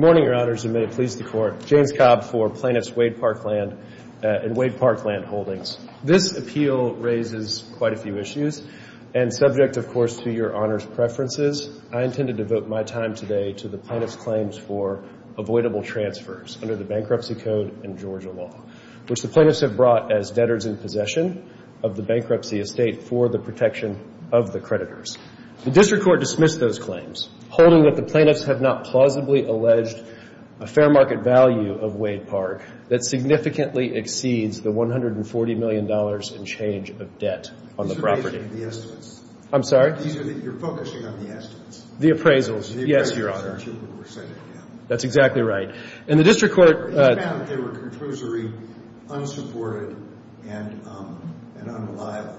Good morning, Your Honors, and may it please the Court, James Cobb for Plaintiffs' Wade Park Land and Wade Park Land Holdings. This appeal raises quite a few issues, and subject, of course, to Your Honor's preferences, I intended to devote my time today to the plaintiff's claims for avoidable transfers under the Bankruptcy Code and Georgia law, which the plaintiffs have brought as debtors in possession of the bankruptcy estate for the protection of the creditors. The District Court dismissed those claims, holding that the plaintiffs have not plausibly alleged a fair market value of Wade Park that significantly exceeds the $140 million in change of debt on the property. These are the estimates. I'm sorry? You're focusing on the estimates. The appraisals. Yes, Your Honor. The appraisals are the two who were sent in. That's exactly right. And the District Court They found that they were controversy, unsupported, and unreliable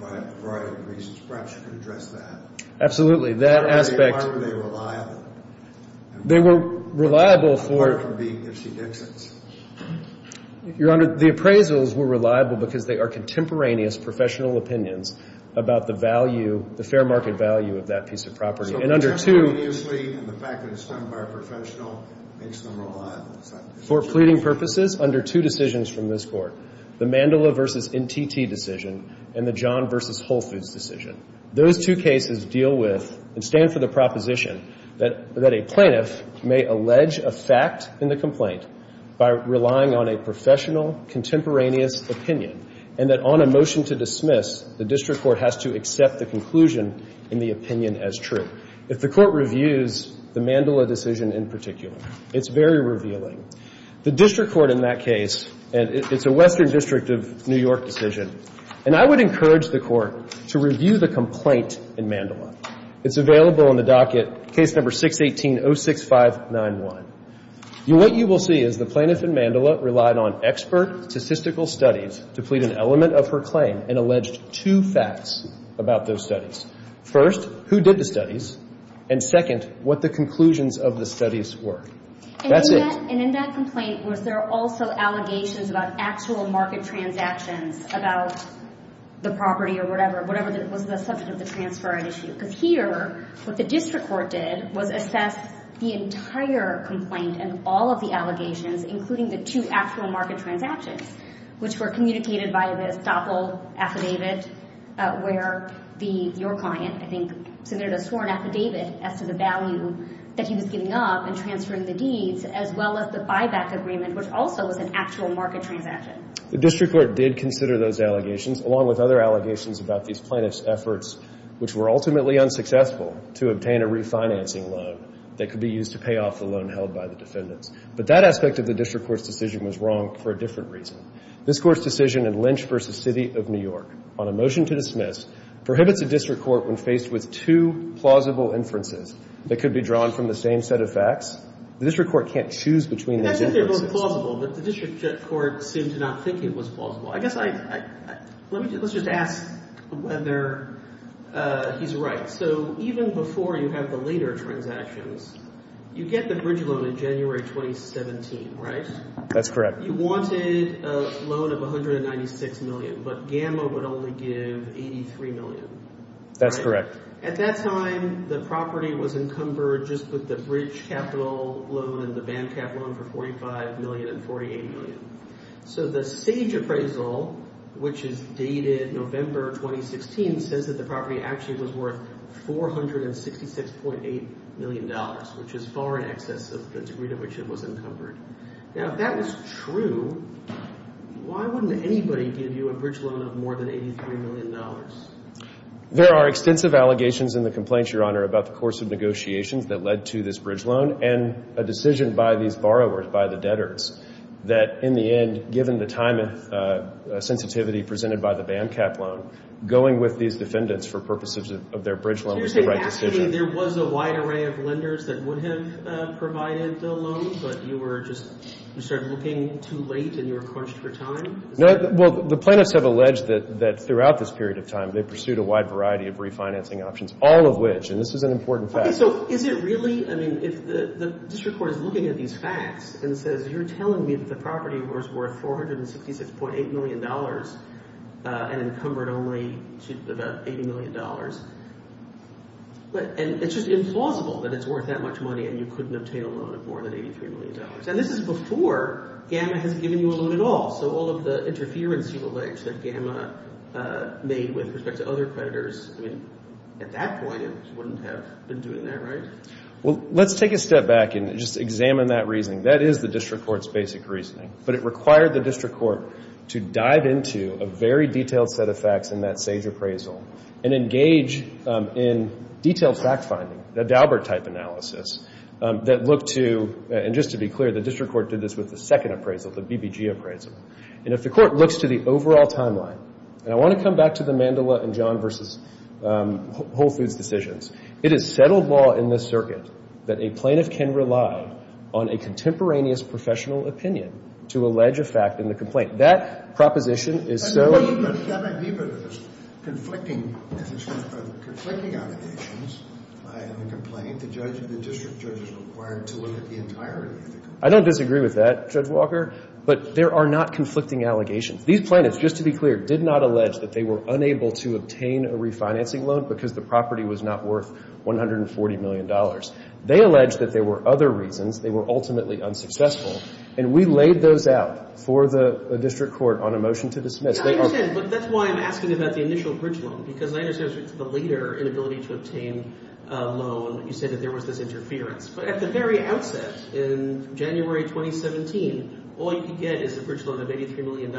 for a variety of reasons. Perhaps you could address that. Absolutely. That aspect Why were they unreliable? They were reliable for Apart from being Gipsy Dixons. Your Honor, the appraisals were reliable because they are contemporaneous professional opinions about the value, the fair market value of that piece of property. And under two So, contemporaneously, and the fact that it's done by a professional makes them reliable. For pleading purposes, under two decisions from this Court, the Mandela v. NTT decision and the John v. Whole Foods decision. Those two cases deal with and stand for the proposition that a plaintiff may allege a fact in the complaint by relying on a professional contemporaneous opinion and that on a motion to dismiss, the District Court has to accept the conclusion in the opinion as true. If the Court reviews the Mandela decision in particular, it's very revealing. The District Court in that case, and it's a Western District of New York decision, And I would encourage the Court to review the complaint in Mandela. It's available in the docket, case number 618-06591. What you will see is the plaintiff in Mandela relied on expert statistical studies to plead an element of her claim and alleged two facts about those studies. First, who did the studies? And second, what the conclusions of the studies were. That's it. And in that complaint, was there also allegations about actual market transactions about the property or whatever, whatever was the subject of the transfer at issue? Because here, what the District Court did was assess the entire complaint and all of the allegations, including the two actual market transactions, which were communicated by this Doppel Affidavit, where your client, I think, submitted a sworn affidavit as to the value that he was giving up in transferring the deeds, as well as the buyback agreement, which also was an actual market transaction. The District Court did consider those allegations, along with other allegations about these plaintiff's efforts, which were ultimately unsuccessful to obtain a refinancing loan that could be used to pay off the loan held by the defendants. But that aspect of the District Court's decision was wrong for a different reason. This Court's decision in Lynch v. City of New York on a motion to dismiss prohibits the District Court when faced with two plausible inferences that could be drawn from the same set of facts. The District Court can't choose between those inferences. And that's if they're both plausible, but the District Court seemed to not think it was plausible. I guess I — let me just — let's just ask whether he's right. So even before you have the later transactions, you get the bridge loan in January 2017, right? That's correct. You wanted a loan of $196 million, but Gamma would only give $83 million, right? That's correct. At that time, the property was encumbered just with the bridge capital loan and the band cap loan for $45 million and $48 million. So the Sage appraisal, which is dated November 2016, says that the property actually was worth $466.8 million, which is far in excess of the degree to which it was encumbered. Now, if that was true, why wouldn't anybody give you a bridge loan of more than $83 million? There are extensive allegations in the complaints, Your Honor, about the course of negotiations that led to this bridge loan and a decision by these borrowers, by the debtors, that in the end, given the time and sensitivity presented by the band cap loan, going with these defendants for purposes of their bridge loan was the right decision. So you're saying actually there was a wide array of lenders that would have provided the loan, but you were just, you started looking too late and you were crunched for time? No, well, the plaintiffs have alleged that throughout this period of time, they pursued a wide variety of refinancing options, all of which, and this is an important fact. Okay, so is it really, I mean, if the district court is looking at these facts and says you're telling me that the property was worth $466.8 million and encumbered only to about $80 million, and it's just implausible that it's worth that much money and you couldn't obtain a loan of more than $83 million, and this is before GAMMA has given you a loan at all. So all of the interference you allege that GAMMA made with respect to other creditors, I mean, at that point, it wouldn't have been doing that, right? Well, let's take a step back and just examine that reasoning. That is the district court's basic reasoning. But it required the district court to dive into a very detailed set of facts in that age in detailed fact-finding, the Daubert-type analysis, that looked to, and just to be clear, the district court did this with the second appraisal, the BBG appraisal. And if the court looks to the overall timeline, and I want to come back to the Mandela and John v. Whole Foods decisions, it is settled law in this circuit that a plaintiff can rely on a contemporaneous professional opinion to allege a fact in the complaint. That proposition is so That might be one of those conflicting allegations in the complaint. The district judge is required to look at the entirety of the complaint. I don't disagree with that, Judge Walker, but there are not conflicting allegations. These plaintiffs, just to be clear, did not allege that they were unable to obtain a refinancing loan because the property was not worth $140 million. They allege that there were other reasons. They were ultimately unsuccessful. And we laid those out for the district court on a motion to dismiss. I understand, but that's why I'm asking about the initial bridge loan, because I understand it's the leader inability to obtain a loan. You said that there was this interference. But at the very outset, in January 2017, all you could get is a bridge loan of $83 million.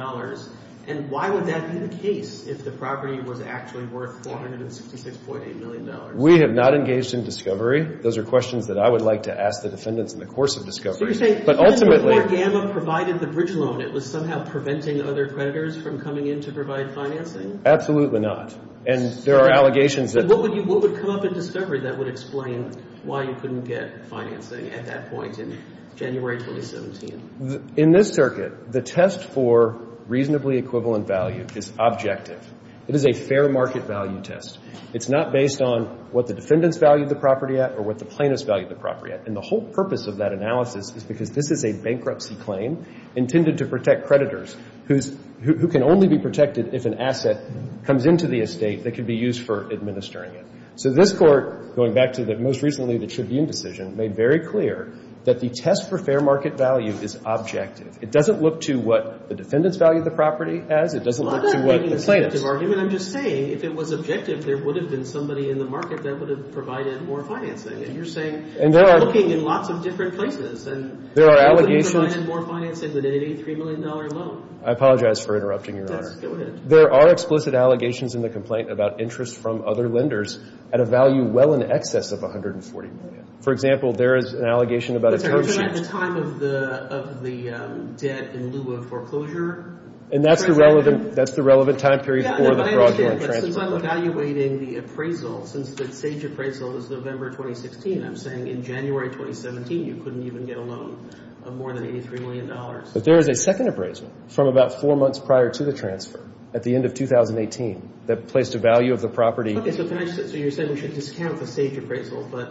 And why would that be the case if the property was actually worth $466.8 million? We have not engaged in discovery. Those are questions that I would like to ask the defendants in the course of discovery. So you're saying, before GAMA provided the bridge loan, it was somehow preventing other plaintiffs from coming in to provide financing? Absolutely not. And there are allegations that – So what would come up in discovery that would explain why you couldn't get financing at that point in January 2017? In this circuit, the test for reasonably equivalent value is objective. It is a fair market value test. It's not based on what the defendants valued the property at or what the plaintiffs valued the property at. And the whole purpose of that analysis is because this is a bankruptcy claim intended to protect creditors, who can only be protected if an asset comes into the estate that could be used for administering it. So this Court, going back to most recently the Tribune decision, made very clear that the test for fair market value is objective. It doesn't look to what the defendants valued the property as. It doesn't look to what the plaintiffs – Well, I'm not making a subjective argument. I'm just saying, if it was objective, there would have been somebody in the market that would have provided more financing. And you're saying – And there are – You're looking in lots of different places. And – There are allegations – You couldn't even get a loan of more than $83 million alone. I apologize for interrupting, Your Honor. Yes. Go ahead. There are explicit allegations in the complaint about interest from other lenders at a value well in excess of $140 million. For example, there is an allegation about a term sheet – I'm sorry. You're talking about the time of the debt in lieu of foreclosure? And that's the relevant – That's the relevant time period for the fraudulent transfer. Yeah. No, I understand. But since I'm evaluating the appraisal, since the Sage appraisal is November 2016, I'm saying in January 2017, you couldn't even get a loan of more than $83 million. But there is a second appraisal from about four months prior to the transfer at the end of 2018 that placed a value of the property – Okay. So can I just – So you're saying we should discount the Sage appraisal, but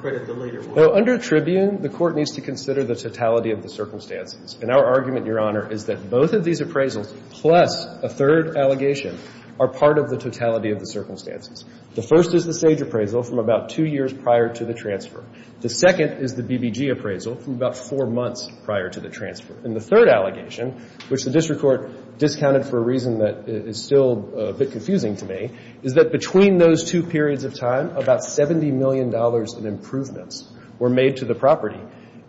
credit the later one? Well, under Tribune, the Court needs to consider the totality of the circumstances. And our argument, Your Honor, is that both of these appraisals, plus a third allegation, are part of the totality of the circumstances. The first is the Sage appraisal from about two years prior to the transfer. The second is the BBG appraisal from about four months prior to the transfer. And the third allegation, which the district court discounted for a reason that is still a bit confusing to me, is that between those two periods of time, about $70 million in improvements were made to the property.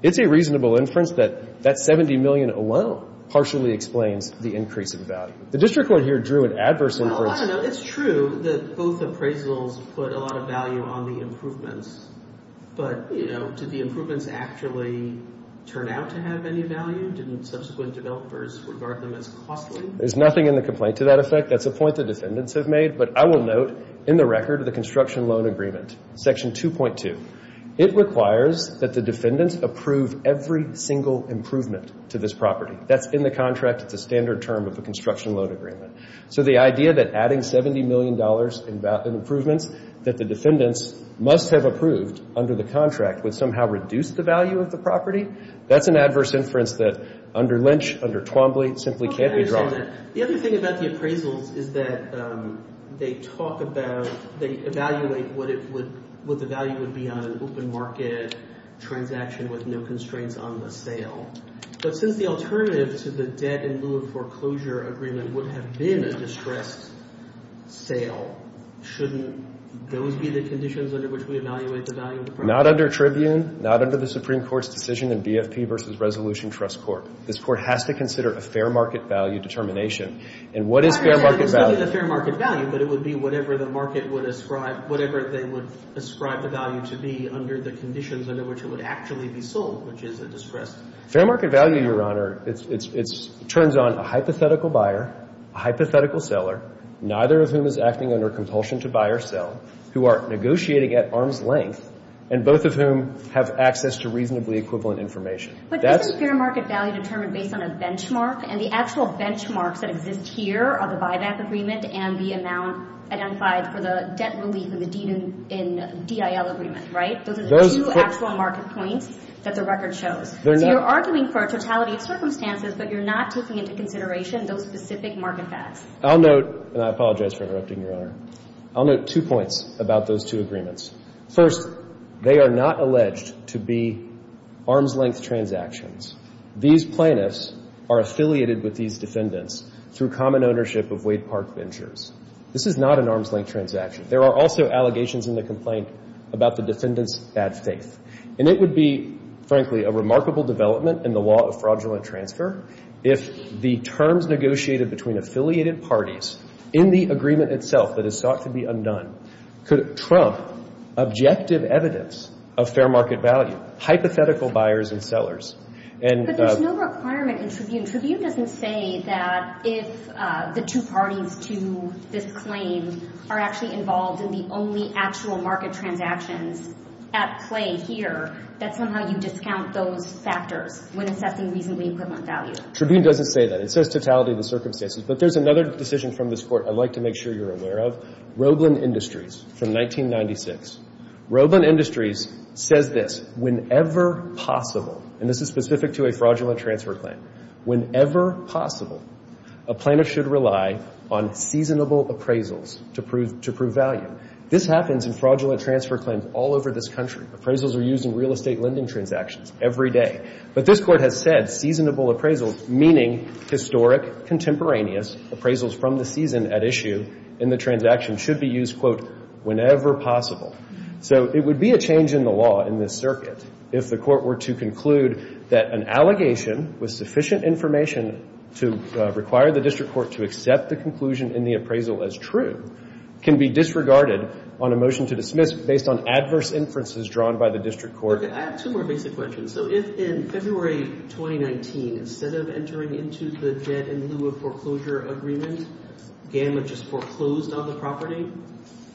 It's a reasonable inference that that $70 million alone partially explains the increase in value. Well, I don't know. It's true that both appraisals put a lot of value on the improvements. But, you know, did the improvements actually turn out to have any value? Didn't subsequent developers regard them as costly? There's nothing in the complaint to that effect. That's a point the defendants have made. But I will note in the record of the construction loan agreement, Section 2.2, it requires that the defendants approve every single improvement to this property. That's in the contract. It's a standard term of the construction loan agreement. So the idea that adding $70 million in improvements that the defendants must have approved under the contract would somehow reduce the value of the property, that's an adverse inference that under Lynch, under Twombly, simply can't be drawn. The other thing about the appraisals is that they talk about, they evaluate what the value would be on an open market transaction with no constraints on the sale. But since the alternative to the debt and lewis foreclosure agreement would have been a distressed sale, shouldn't those be the conditions under which we evaluate the value of the property? Not under Tribune. Not under the Supreme Court's decision in BFP v. Resolution Trust Court. This court has to consider a fair market value determination. And what is fair market value? It is a fair market value, but it would be whatever the market would ascribe, whatever they would ascribe the value to be under the conditions under which it would actually be sold, which is a distressed sale. Fair market value, Your Honor, it turns on a hypothetical buyer, a hypothetical seller, neither of whom is acting under compulsion to buy or sell, who are negotiating at arm's length, and both of whom have access to reasonably equivalent information. But isn't fair market value determined based on a benchmark? And the actual benchmarks that exist here are the buyback agreement and the amount identified for the debt relief in the DIL agreement, right? Those are the two actual market points that the record shows. So you're arguing for a totality of circumstances, but you're not taking into consideration those specific market facts. I'll note, and I apologize for interrupting, Your Honor. I'll note two points about those two agreements. First, they are not alleged to be arm's length transactions. These plaintiffs are affiliated with these defendants through common ownership of Wade Park Ventures. This is not an arm's length transaction. There are also allegations in the complaint about the defendants' bad faith. And it would be, frankly, a remarkable development in the law of fraudulent transfer if the terms negotiated between affiliated parties in the agreement itself that is sought to be undone could trump objective evidence of fair market value, hypothetical buyers and sellers. But there's no requirement in Tribune. But Tribune doesn't say that if the two parties to this claim are actually involved in the only actual market transactions at play here, that somehow you discount those factors when assessing reasonably equivalent value. Tribune doesn't say that. It says totality of the circumstances. But there's another decision from this Court I'd like to make sure you're aware of, Roblin Industries from 1996. Roblin Industries says this, whenever possible, and this is specific to a fraudulent transfer claim, whenever possible, a plaintiff should rely on seasonable appraisals to prove value. This happens in fraudulent transfer claims all over this country. Appraisals are used in real estate lending transactions every day. But this Court has said seasonable appraisals, meaning historic, contemporaneous appraisals from the season at issue in the transaction, should be used, quote, whenever possible. So it would be a change in the law in this circuit if the Court were to conclude that an allegation with sufficient information to require the district court to accept the conclusion in the appraisal as true can be disregarded on a motion to dismiss based on adverse inferences drawn by the district court. I have two more basic questions. So if in February 2019, instead of entering into the debt in lieu of foreclosure agreement, GAMMA just foreclosed on the property,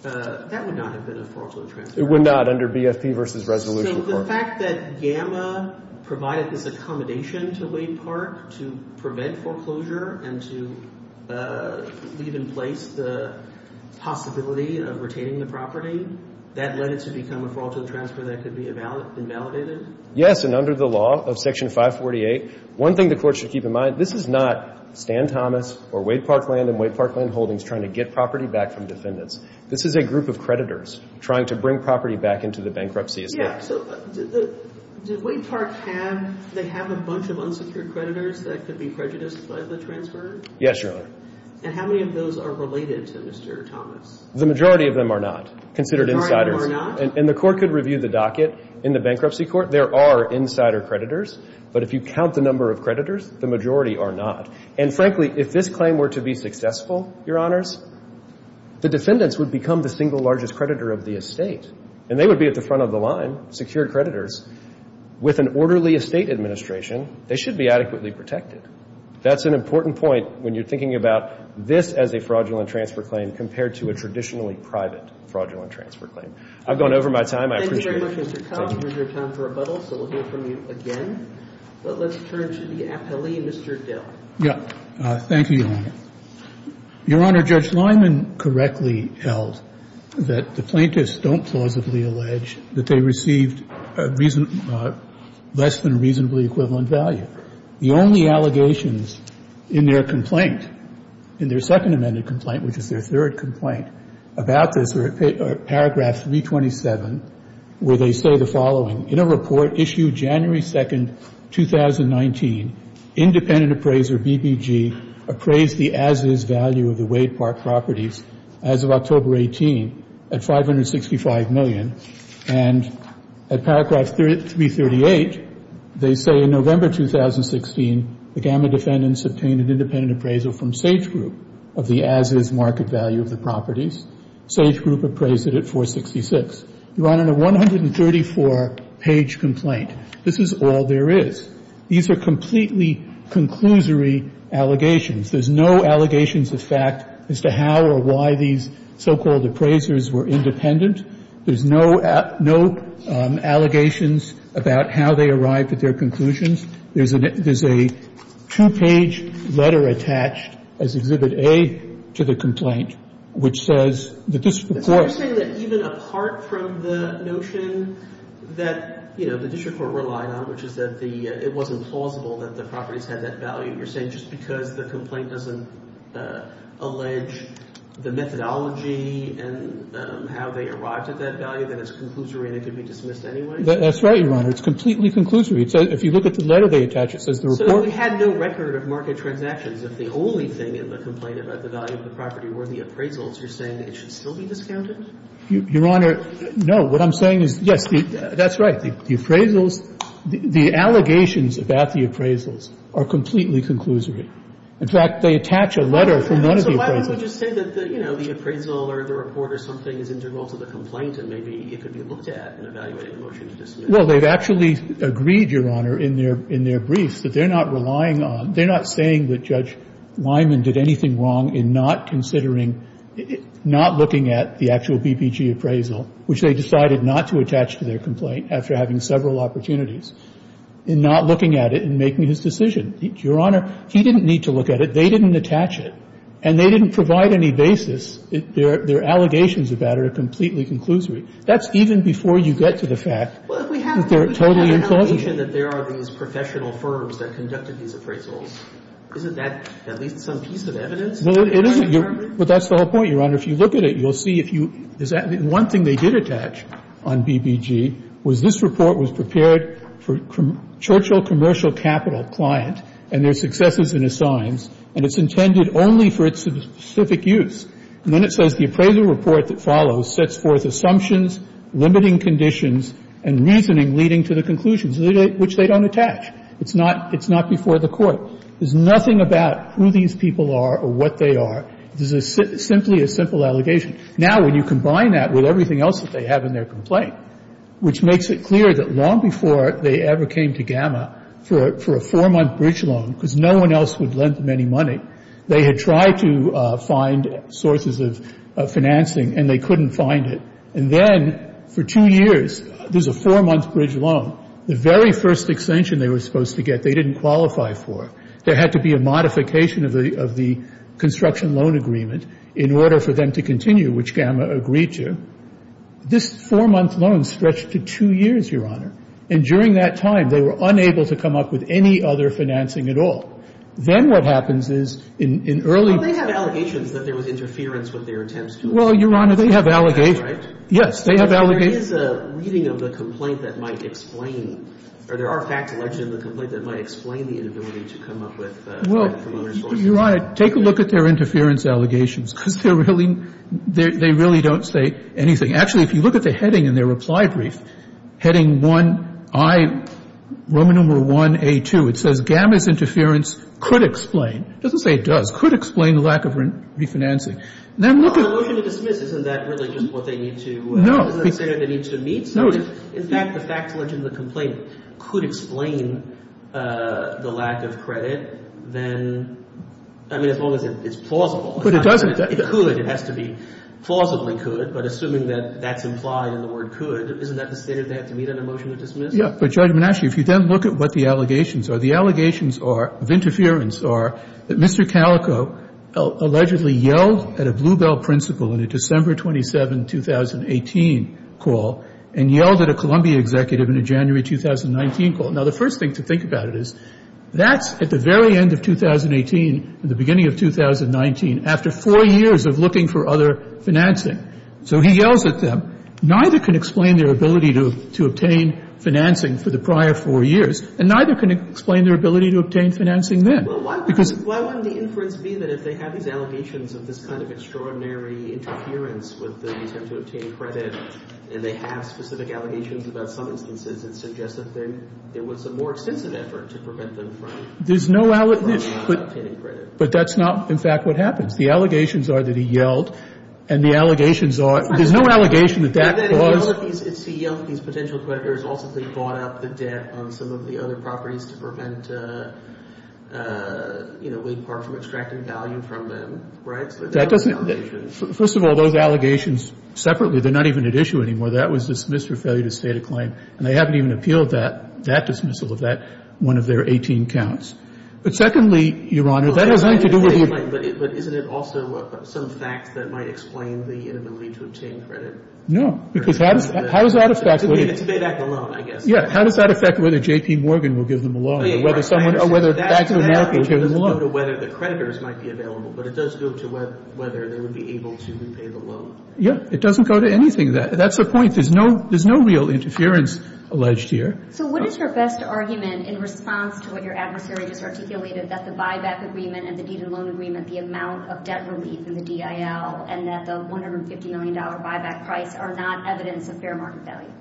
that would not have been a fraudulent transfer. It would not under BFP versus resolution. So the fact that GAMMA provided this accommodation to Wade Park to prevent foreclosure and to leave in place the possibility of retaining the property, that led it to become a fraudulent transfer that could be invalidated? Yes, and under the law of Section 548, one thing the Court should keep in mind, this is not Stan Thomas or Wade Parkland and Wade Parkland Holdings trying to get property back from defendants. This is a group of creditors trying to bring property back into the bankruptcy estate. Yeah, so did Wade Park have a bunch of unsecured creditors that could be prejudiced by the transfer? Yes, Your Honor. And how many of those are related to Mr. Thomas? The majority of them are not, considered insiders. The majority are not? And the Court could review the docket in the bankruptcy court. There are insider creditors, but if you count the number of creditors, the majority are not. And frankly, if this claim were to be successful, Your Honors, the defendants would become the single largest creditor of the estate, and they would be at the front of the line, secure creditors. With an orderly estate administration, they should be adequately protected. That's an important point when you're thinking about this as a fraudulent transfer claim compared to a traditionally private fraudulent transfer claim. I've gone over my time. I appreciate it. Thank you very much, Mr. Cobb. We're near time for rebuttal, so we'll hear from you again. But let's turn to the appellee, Mr. Dill. Yeah. Thank you, Your Honor. Your Honor, Judge Lyman correctly held that the plaintiffs don't plausibly allege that they received less than reasonably equivalent value. The only allegations in their complaint, in their second amended complaint, which is their third complaint, about this are paragraph 327, where they say the following, in a report issued January 2, 2019, independent appraiser BBG appraised the as-is value of the Wade Park properties as of October 18 at $565 million. And at paragraph 338, they say in November 2016, the Gamma defendants obtained an independent appraisal from Sage Group of the as-is market value of the properties. Sage Group appraised it at $466. Your Honor, in a 134-page complaint, this is all there is. These are completely conclusory allegations. There's no allegations of fact as to how or why these so-called appraisers were independent. There's no allegations about how they arrived at their conclusions. There's a two-page letter attached as Exhibit A to the complaint, which says the district court ---- So you're saying that even apart from the notion that, you know, the district court relied on, which is that it wasn't plausible that the properties had that value, you're saying just because the complaint doesn't allege the methodology and how they arrived at that value, that it's conclusory and it can be dismissed anyway? That's right, Your Honor. It's completely conclusory. If you look at the letter they attach, it says the report ---- So we had no record of market transactions. If the only thing in the complaint about the value of the property were the appraisals, you're saying it should still be discounted? Your Honor, no. What I'm saying is, yes, that's right. The appraisals ---- the allegations about the appraisals are completely conclusory. In fact, they attach a letter from none of the appraisals. So why don't you just say that, you know, the appraisal or the report or something is integral to the complaint and maybe it could be looked at in evaluating the motion to dismiss? Well, they've actually agreed, Your Honor, in their briefs that they're not relying on ---- they're not saying that Judge Lyman did anything wrong in not considering ---- not looking at the actual BBG appraisal, which they decided not to attach to their They're not saying that Judge Lyman did anything wrong in having several opportunities in not looking at it and making his decision. Your Honor, he didn't need to look at it. They didn't attach it. And they didn't provide any basis. Their allegations about it are completely conclusory. That's even before you get to the fact that they're totally implausible. But we have an allegation that there are these professional firms that conducted these appraisals. Isn't that at least some piece of evidence? No, it isn't. But that's the whole point, Your Honor. If you look at it, you'll see if you ---- one thing they did attach on BBG was this report was prepared for Churchill Commercial Capital client and their successes and assigns, and it's intended only for its specific use. And then it says the appraisal report that follows sets forth assumptions, limiting conditions, and reasoning leading to the conclusions, which they don't It's not before the Court. There's nothing about who these people are or what they are. This is simply a simple allegation. Now, when you combine that with everything else that they have in their complaint, which makes it clear that long before they ever came to Gamma for a four-month bridge loan, because no one else would lend them any money, they had tried to find sources of financing, and they couldn't find it. And then for two years, there's a four-month bridge loan. The very first extension they were supposed to get, they didn't qualify for. There had to be a modification of the construction loan agreement in order for them to continue, which Gamma agreed to. This four-month loan stretched to two years, Your Honor. And during that time, they were unable to come up with any other financing at all. Then what happens is in early ---- Well, Your Honor, take a look at their interference allegations, because they're really ---- they really don't say anything. Actually, if you look at the heading in their reply brief, heading 1I, Roman number 1A2, it says Gamma's interference could explain. It doesn't say it does. Could explain the lack of refinancing. Then look at ---- No. No. No. I mean, as long as it's plausible. But it doesn't ---- It could. It has to be plausibly could, but assuming that that's implied in the word could, isn't that the state of the art to meet on a motion of dismissal? Yeah. But, Judge Manasci, if you then look at what the allegations are, the allegations of interference are that Mr. Calico allegedly yelled at a Bluebell principal in a first thing to think about it is, that's at the very end of 2018, the beginning of 2019, after four years of looking for other financing. So he yells at them. Neither can explain their ability to obtain financing for the prior four years, and neither can explain their ability to obtain financing then. Well, why wouldn't the inference be that if they have these allegations of this kind of extraordinary interference with the intent to obtain credit, and they have specific allegations about some instances, it suggests that there was a more extensive effort to prevent them from obtaining credit? There's no ---- But that's not, in fact, what happens. The allegations are that he yelled, and the allegations are ---- There's no allegation that that caused ---- And then he yelled at these potential creditors also because he bought up the debt on some of the other properties to prevent Wade Park from extracting value from them. Right? That doesn't ---- First of all, those allegations separately, they're not even at issue anymore. That was dismissed for failure to state a claim. And they haven't even appealed that, that dismissal of that, one of their 18 counts. But secondly, Your Honor, that has nothing to do with the ---- But isn't it also some fact that might explain the inability to obtain credit? No. Because how does that affect ---- To pay back the loan, I guess. Yeah. How does that affect whether J.P. Morgan will give them a loan or whether someone ---- That doesn't go to whether the creditors might be available, but it does go to whether they would be able to repay the loan. Yeah. It doesn't go to anything. That's the point. There's no real interference alleged here. So what is your best argument in response to what your adversary just articulated, that the buyback agreement and the deed and loan agreement, the amount of debt relief in the DIL and that the $150 million buyback price are not evidence of fair market value?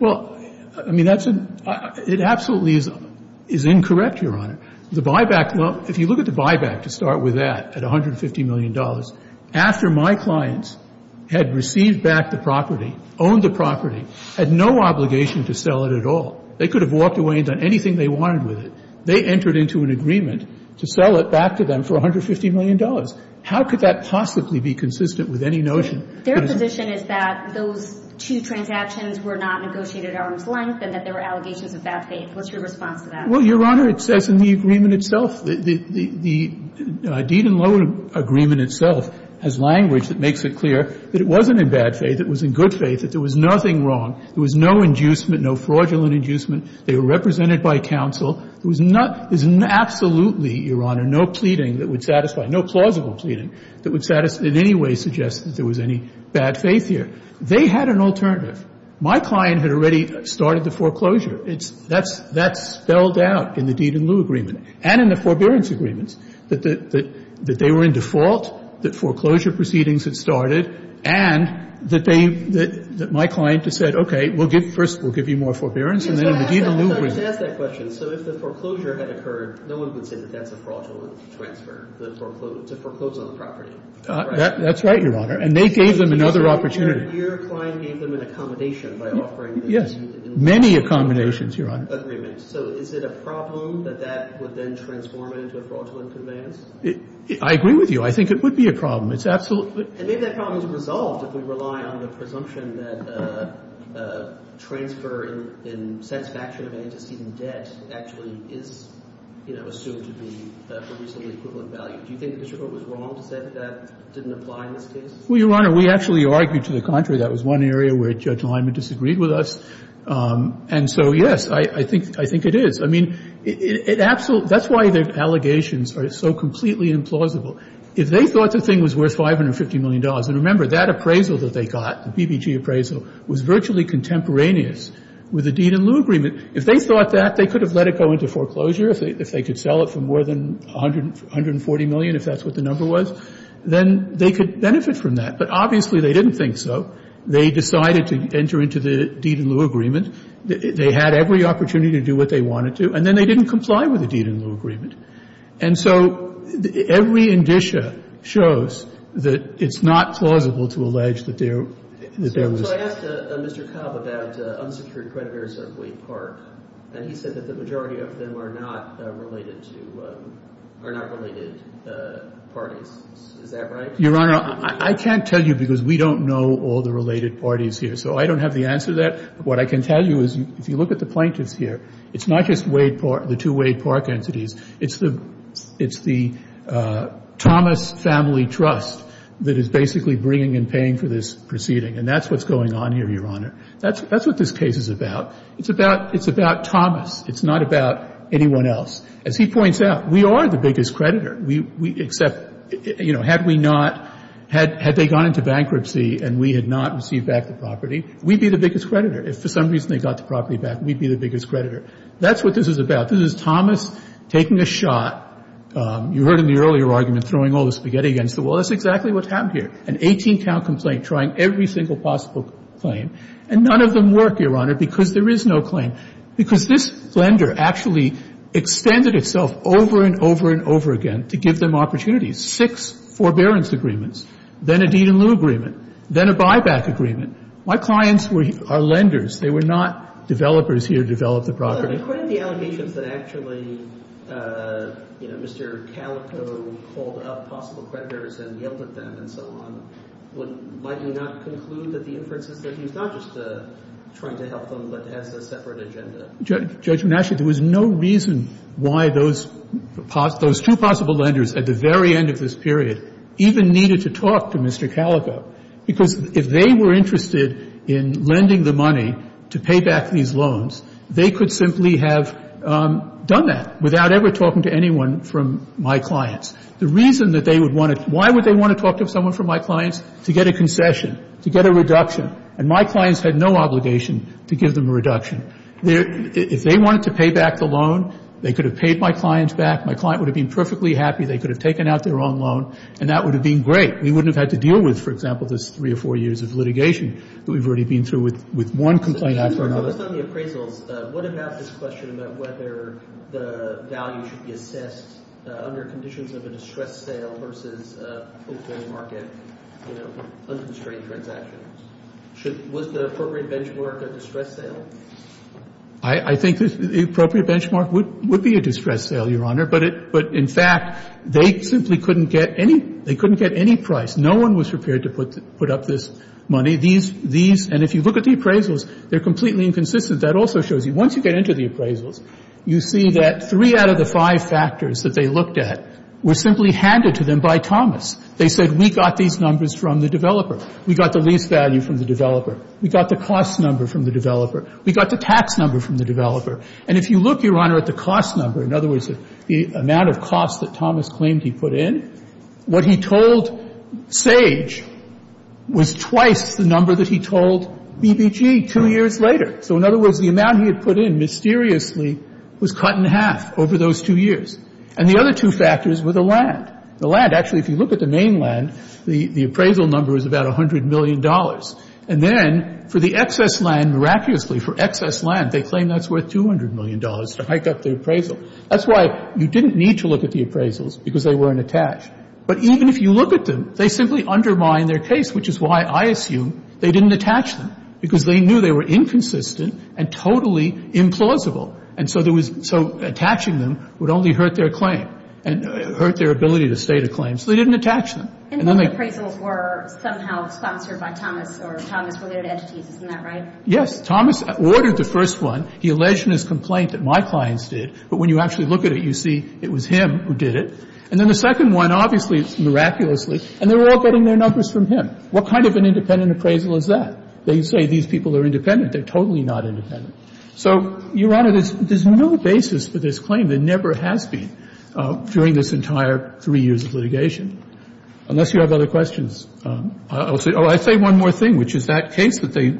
Well, I mean, that's an ---- It absolutely is incorrect, Your Honor. The buyback loan, if you look at the buyback, to start with that, at $150 million, after my clients had received back the property, owned the property, had no obligation to sell it at all, they could have walked away and done anything they wanted with it. They entered into an agreement to sell it back to them for $150 million. How could that possibly be consistent with any notion? Their position is that those two transactions were not negotiated at arm's length and that there were allegations of bad faith. What's your response to that? Well, Your Honor, it says in the agreement itself, the deed and loan agreement itself, has language that makes it clear that it wasn't in bad faith, it was in good faith, that there was nothing wrong. There was no inducement, no fraudulent inducement. They were represented by counsel. There was not ---- there's absolutely, Your Honor, no pleading that would satisfy ---- no plausible pleading that would in any way suggest that there was any bad faith here. They had an alternative. My client had already started the foreclosure. It's ---- that's spelled out in the deed and loan agreement and in the forbearance agreements, that they were in default, that foreclosure proceedings had started, and that they ---- that my client had said, okay, we'll give ---- first we'll give you more forbearance, and then in the deed and loan agreement ---- Yes, but I wanted to ask that question. So if the foreclosure had occurred, no one would say that that's a fraudulent transfer, to foreclose on the property, right? That's right, Your Honor. And they gave them another opportunity. Yes, many accommodations, Your Honor. So is it a problem that that would then transform into a fraudulent conveyance? I agree with you. I think it would be a problem. It's absolutely ---- And maybe that problem is resolved if we rely on the presumption that transfer in satisfaction of antecedent debt actually is, you know, assumed to be a reasonably equivalent value. Do you think the district court was wrong to say that that didn't apply in this case? Well, Your Honor, we actually argued to the contrary. That was one area where Judge Lyman disagreed with us. And so, yes, I think it is. I mean, that's why the allegations are so completely implausible. If they thought the thing was worth $550 million, and remember, that appraisal that they got, the BBG appraisal, was virtually contemporaneous with the deed and lieu agreement. If they thought that, they could have let it go into foreclosure. If they could sell it for more than $140 million, if that's what the number was, then they could benefit from that. But obviously they didn't think so. They decided to enter into the deed and lieu agreement. They had every opportunity to do what they wanted to, and then they didn't comply with the deed and lieu agreement. And so every indicia shows that it's not plausible to allege that there was. So I asked Mr. Cobb about unsecured creditors of Wake Park, and he said that the majority of them are not related to or not related parties. Is that right? Your Honor, I can't tell you because we don't know all the related parties here. So I don't have the answer to that. What I can tell you is if you look at the plaintiffs here, it's not just the two Wade Park entities. It's the Thomas Family Trust that is basically bringing and paying for this proceeding, and that's what's going on here, Your Honor. That's what this case is about. It's about Thomas. It's not about anyone else. As he points out, we are the biggest creditor, except, you know, had we not had they gone into bankruptcy and we had not received back the property, we'd be the biggest creditor. If for some reason they got the property back, we'd be the biggest creditor. That's what this is about. This is Thomas taking a shot. You heard in the earlier argument throwing all the spaghetti against the wall. That's exactly what's happened here, an 18-count complaint trying every single possible claim, and none of them work, Your Honor, because there is no claim. Because this lender actually extended itself over and over and over again to give them opportunities. Six forbearance agreements, then a deed-in-lieu agreement, then a buyback agreement. My clients are lenders. They were not developers here to develop the property. But according to the allegations that actually, you know, Mr. Calico called up possible creditors and yelled at them and so on, might you not conclude that the inference is that he was not just trying to help them but has a separate agenda? Judgment. Actually, there was no reason why those two possible lenders at the very end of this period even needed to talk to Mr. Calico, because if they were interested in lending the money to pay back these loans, they could simply have done that without ever talking to anyone from my clients. The reason that they would want to why would they want to talk to someone from my clients? To get a concession, to get a reduction. And my clients had no obligation to give them a reduction. If they wanted to pay back the loan, they could have paid my clients back. My client would have been perfectly happy. They could have taken out their own loan. And that would have been great. We wouldn't have had to deal with, for example, this three or four years of litigation that we've already been through with one complaint after another. I think the appropriate benchmark would be a distress sale, Your Honor. But in fact, they simply couldn't get any price. No one was prepared to put up this money. And if you look at the appraisals, they're completely inconsistent. That also shows you, once you get into the appraisals, you see that three out of the five factors that they looked at were simply handed to them by Thomas. They said, we got these numbers from the developer. We got the lease value from the developer. We got the cost number from the developer. We got the tax number from the developer. And if you look, Your Honor, at the cost number, in other words, the amount of costs that Thomas claimed he put in, what he told Sage was twice the number that he told BBG two years later. So in other words, the amount he had put in mysteriously was cut in half over those two years. And the other two factors were the land. The land, actually, if you look at the main land, the appraisal number is about $100 million. And then for the excess land, miraculously, for excess land, they claim that's worth $200 million to hike up the appraisal. That's why you didn't need to look at the appraisals, because they weren't attached. But even if you look at them, they simply undermine their case, which is why I assume they didn't attach them, because they knew they were inconsistent and totally implausible. And so there was – so attaching them would only hurt their claim and hurt their ability to state a claim. So they didn't attach them. And then they – And the appraisals were somehow sponsored by Thomas or Thomas-related entities. Isn't that right? Yes. Thomas ordered the first one. He alleged in his complaint that my clients did. But when you actually look at it, you see it was him who did it. And then the second one, obviously, miraculously, and they were all getting their numbers from him. What kind of an independent appraisal is that? They say these people are independent. They're totally not independent. So, Your Honor, there's no basis for this claim. There never has been during this entire three years of litigation, unless you have other questions. I'll say – oh, I'll say one more thing, which is that case that they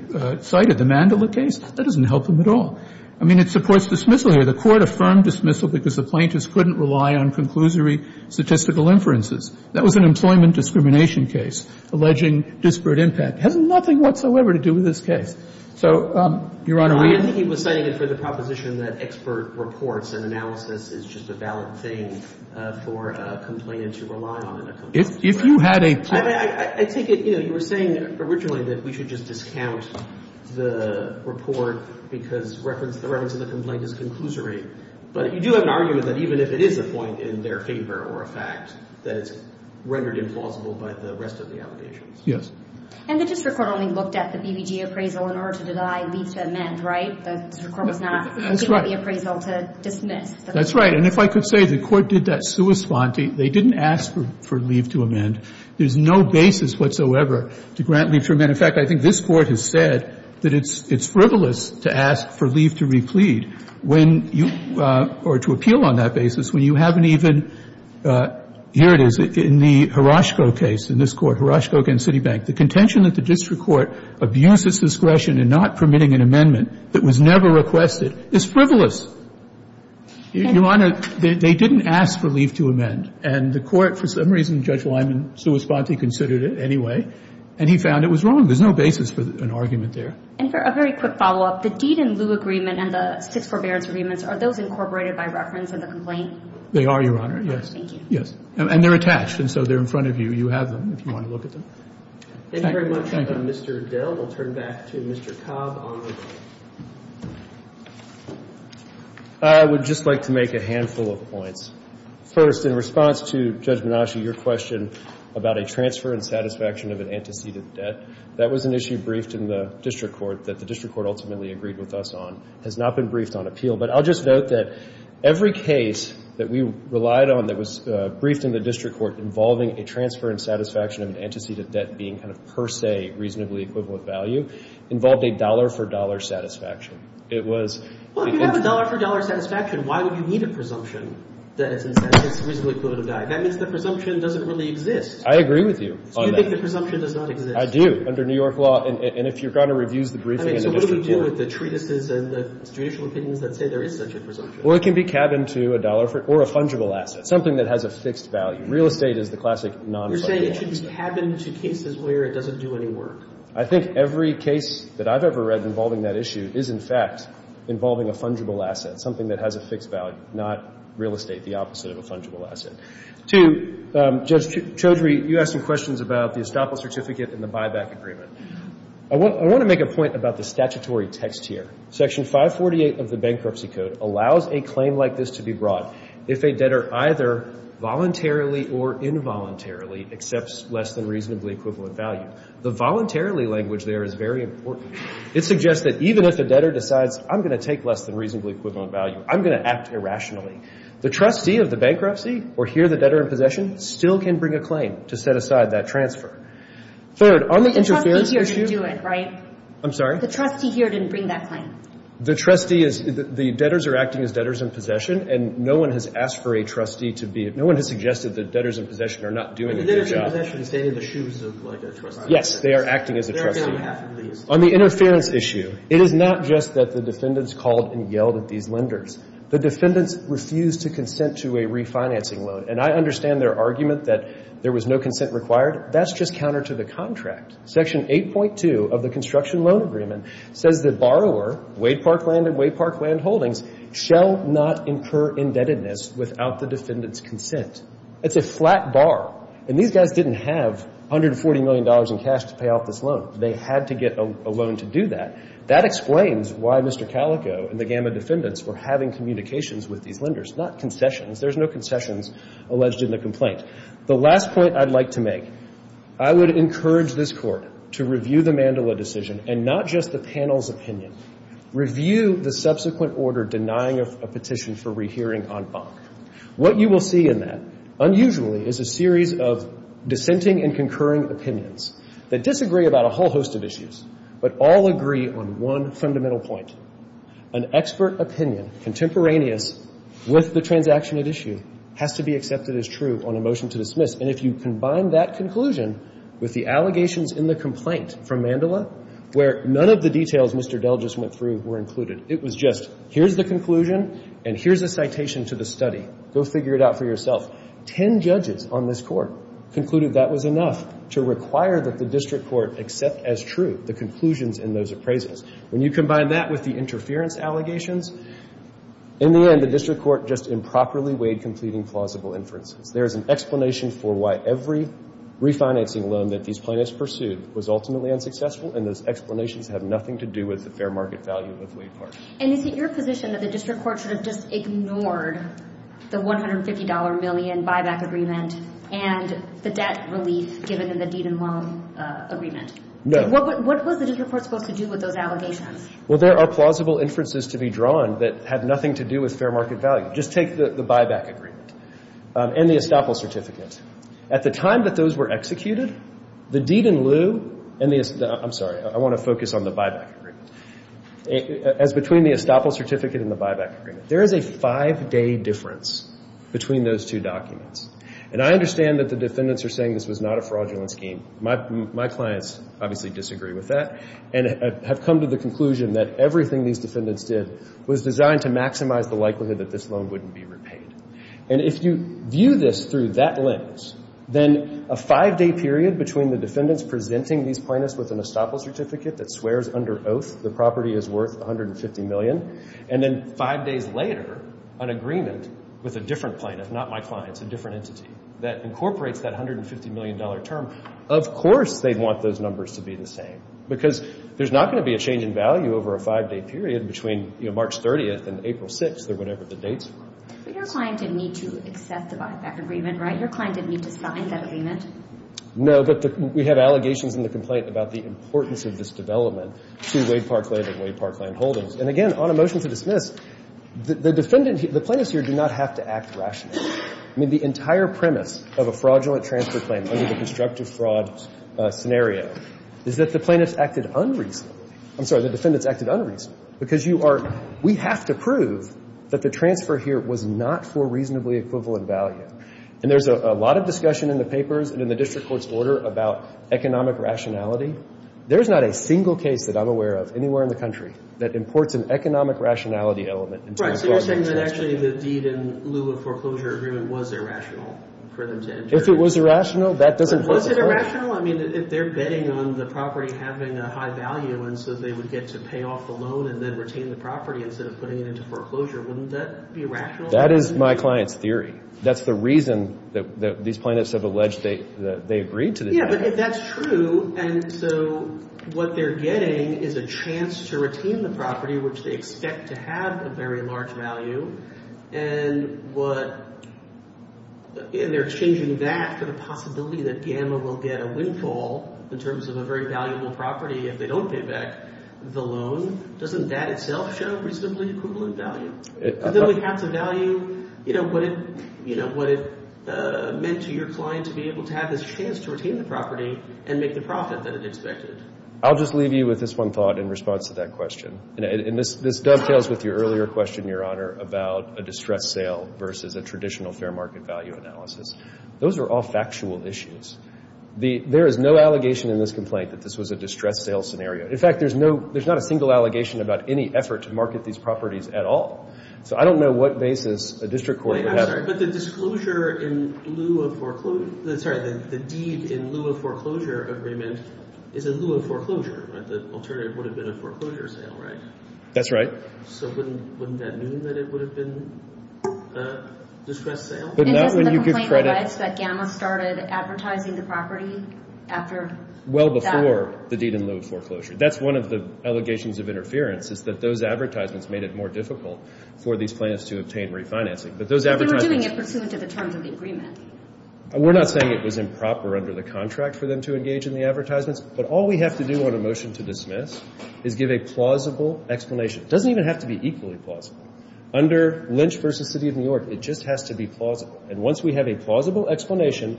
cited, the Mandela case, that doesn't help them at all. I mean, it supports dismissal here. The Court affirmed dismissal because the plaintiffs couldn't rely on conclusory statistical inferences. That was an employment discrimination case alleging disparate impact. It has nothing whatsoever to do with this case. So, Your Honor, we – I don't think he was citing it for the proposition that expert reports and analysis is just a valid thing for a complainant to rely on in a complaint. If you had a – I think, you know, you were saying originally that we should just discount the report because the reference of the complaint is conclusory. But you do have an argument that even if it is a point in their favor or a fact, that it's rendered implausible by the rest of the allegations. Yes. And the district court only looked at the BBG appraisal in order to deny leave to amend, right? The district court was not looking at the appraisal to dismiss. That's right. And if I could say, the Court did that sua sponte. There's no basis whatsoever to grant leave to amend. And, in fact, I think this Court has said that it's frivolous to ask for leave to replead when you – or to appeal on that basis when you haven't even – here it is. In the Hiroshiko case, in this Court, Hiroshiko against Citibank, the contention that the district court abuses discretion in not permitting an amendment that was never requested is frivolous. Your Honor, they didn't ask for leave to amend. And the Court, for some reason, Judge Lyman sua sponte considered it anyway. And he found it was wrong. There's no basis for an argument there. And for a very quick follow-up, the deed in lieu agreement and the six forbearance agreements, are those incorporated by reference in the complaint? They are, Your Honor. Yes. Thank you. Yes. And they're attached. And so they're in front of you. You have them if you want to look at them. Thank you. Thank you. Thank you very much, Mr. Dell. We'll turn back to Mr. Cobb. I would just like to make a handful of points. First, in response to Judge Menaschi, your question about a transfer and satisfaction of an antecedent debt, that was an issue briefed in the district court that the district court ultimately agreed with us on. It has not been briefed on appeal. But I'll just note that every case that we relied on that was briefed in the district court involving a transfer and satisfaction of an antecedent debt being kind of per se reasonably equivalent value involved a dollar-for-dollar satisfaction. It was the contrary. Well, if you have a dollar-for-dollar satisfaction, why would you need a presumption that it's reasonably equivalent value? That means the presumption doesn't really exist. I agree with you on that. So you think the presumption does not exist? I do, under New York law. And if you're going to review the briefing in the district court. So what do we do with the treatises and the judicial opinions that say there is such a presumption? Well, it can be cabined to a dollar or a fungible asset, something that has a fixed value. Real estate is the classic non-fungible asset. You're saying it should be cabined to cases where it doesn't do any work. I think every case that I've ever read involving that issue is, in fact, involving a fungible asset, something that has a fixed value, not real estate, the opposite of a fungible asset. Two, Judge Chaudhry, you asked some questions about the estoppel certificate and the buyback agreement. I want to make a point about the statutory text here. Section 548 of the Bankruptcy Code allows a claim like this to be brought if a debtor either voluntarily or involuntarily accepts less than reasonably equivalent value. The voluntarily language there is very important. It suggests that even if a debtor decides, I'm going to take less than reasonably equivalent value, I'm going to act irrationally, the trustee of the bankruptcy or here the debtor in possession still can bring a claim to set aside that transfer. Third, on the interference issue – The trustee here didn't do it, right? I'm sorry? The trustee here didn't bring that claim. The trustee is – the debtors are acting as debtors in possession, and no one has asked for a trustee to be – no one has suggested that debtors in possession are not doing a good job. But the debtors in possession stay in the shoes of, like, a trustee. Yes. They are acting as a trustee. On the interference issue, it is not just that the defendants called and yelled at these lenders. The defendants refused to consent to a refinancing loan. And I understand their argument that there was no consent required. That's just counter to the contract. Section 8.2 of the construction loan agreement says that borrower, Wade Parkland and Wade Parkland Holdings, shall not incur indebtedness without the defendant's consent. It's a flat bar. And these guys didn't have $140 million in cash to pay off this loan. They had to get a loan to do that. That explains why Mr. Calico and the GAMA defendants were having communications with these lenders, not concessions. There's no concessions alleged in the complaint. The last point I'd like to make, I would encourage this Court to review the Mandela decision, and not just the panel's opinion. Review the subsequent order denying a petition for rehearing on FONC. What you will see in that, unusually, is a series of dissenting and concurring opinions that disagree about a whole host of issues, but all agree on one fundamental point. An expert opinion, contemporaneous with the transaction at issue, has to be accepted as true on a motion to dismiss. And if you combine that conclusion with the allegations in the complaint from Mandela, where none of the details Mr. Dell just went through were included. It was just, here's the conclusion and here's a citation to the study. Go figure it out for yourself. Ten judges on this Court concluded that was enough to require that the District Court accept as true the conclusions in those appraisals. When you combine that with the interference allegations, in the end, the District Court just improperly weighed completing plausible inferences. There is an explanation for why every refinancing loan that these plaintiffs pursued was ultimately unsuccessful, and those explanations have nothing to do with the fair market value of Wade Park. And is it your position that the District Court should have just ignored the $150 million buyback agreement and the debt relief given in the Deed and Loan agreement? No. What was the District Court supposed to do with those allegations? Well, there are plausible inferences to be drawn that have nothing to do with fair market value. Just take the buyback agreement and the estoppel certificate. At the time that those were executed, the Deed and Loot and the, I'm sorry, I want to focus on the buyback agreement. As between the estoppel certificate and the buyback agreement, there is a five-day difference between those two documents. And I understand that the defendants are saying this was not a fraudulent scheme. My clients obviously disagree with that and have come to the conclusion that everything these defendants did was designed to maximize the likelihood that this loan wouldn't be repaid. And if you view this through that lens, then a five-day period between the defendants presenting these plaintiffs with an estoppel certificate that swears under oath the plaintiff, not my clients, a different entity, that incorporates that $150 million term, of course they'd want those numbers to be the same. Because there's not going to be a change in value over a five-day period between March 30th and April 6th or whatever the dates were. But your client didn't need to accept the buyback agreement, right? Your client didn't need to sign that agreement? No, but we have allegations in the complaint about the importance of this development to Wade Parkland and Wade Parkland Holdings. And again, on a motion to dismiss, the defendant, the plaintiffs here do not have to act rationally. I mean, the entire premise of a fraudulent transfer claim under the constructive fraud scenario is that the plaintiffs acted unreasonably. I'm sorry, the defendants acted unreasonably. Because you are we have to prove that the transfer here was not for reasonably equivalent value. And there's a lot of discussion in the papers and in the district court's order about economic rationality. There's not a single case that I'm aware of anywhere in the country that imports an economic rationality element into a fraudulent transfer. Right, so you're saying that actually the deed in lieu of foreclosure agreement was irrational for them to enter? If it was irrational, that doesn't make sense. Was it irrational? I mean, if they're betting on the property having a high value and so they would get to pay off the loan and then retain the property instead of putting it into foreclosure, wouldn't that be irrational? That is my client's theory. That's the reason that these plaintiffs have alleged that they agreed to the deed. Yeah, but that's true. And so what they're getting is a chance to retain the property, which they expect to have a very large value. And what they're exchanging that for the possibility that Gamma will get a windfall in terms of a very valuable property if they don't pay back the loan. Doesn't that itself show reasonably equivalent value? Then we have to value what it meant to your client to be able to have this chance to retain the property and make the profit that it expected. I'll just leave you with this one thought in response to that question. And this dovetails with your earlier question, Your Honor, about a distressed sale versus a traditional fair market value analysis. Those are all factual issues. There is no allegation in this complaint that this was a distressed sale scenario. In fact, there's not a single allegation about any effort to market these properties at all. So I don't know what basis a district court would have. I'm sorry, but the deed in lieu of foreclosure agreement is in lieu of foreclosure, right? The alternative would have been a foreclosure sale, right? That's right. So wouldn't that mean that it would have been a distressed sale? But not when you give credit. Isn't the complaint that Gamma started advertising the property after that? Well before the deed in lieu of foreclosure. That's one of the allegations of interference is that those advertisements made it more difficult for these plans to obtain refinancing. They were doing it pursuant to the terms of the agreement. We're not saying it was improper under the contract for them to engage in the advertisements, but all we have to do on a motion to dismiss is give a plausible explanation. It doesn't even have to be equally plausible. Under Lynch v. City of New York, it just has to be plausible. And once we have a plausible explanation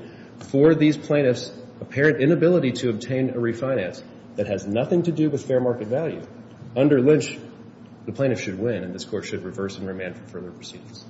for these plaintiffs' apparent inability to obtain a refinance that has nothing to do with fair market value, under Lynch, the plaintiffs should win and this court should reverse and remand for further proceedings.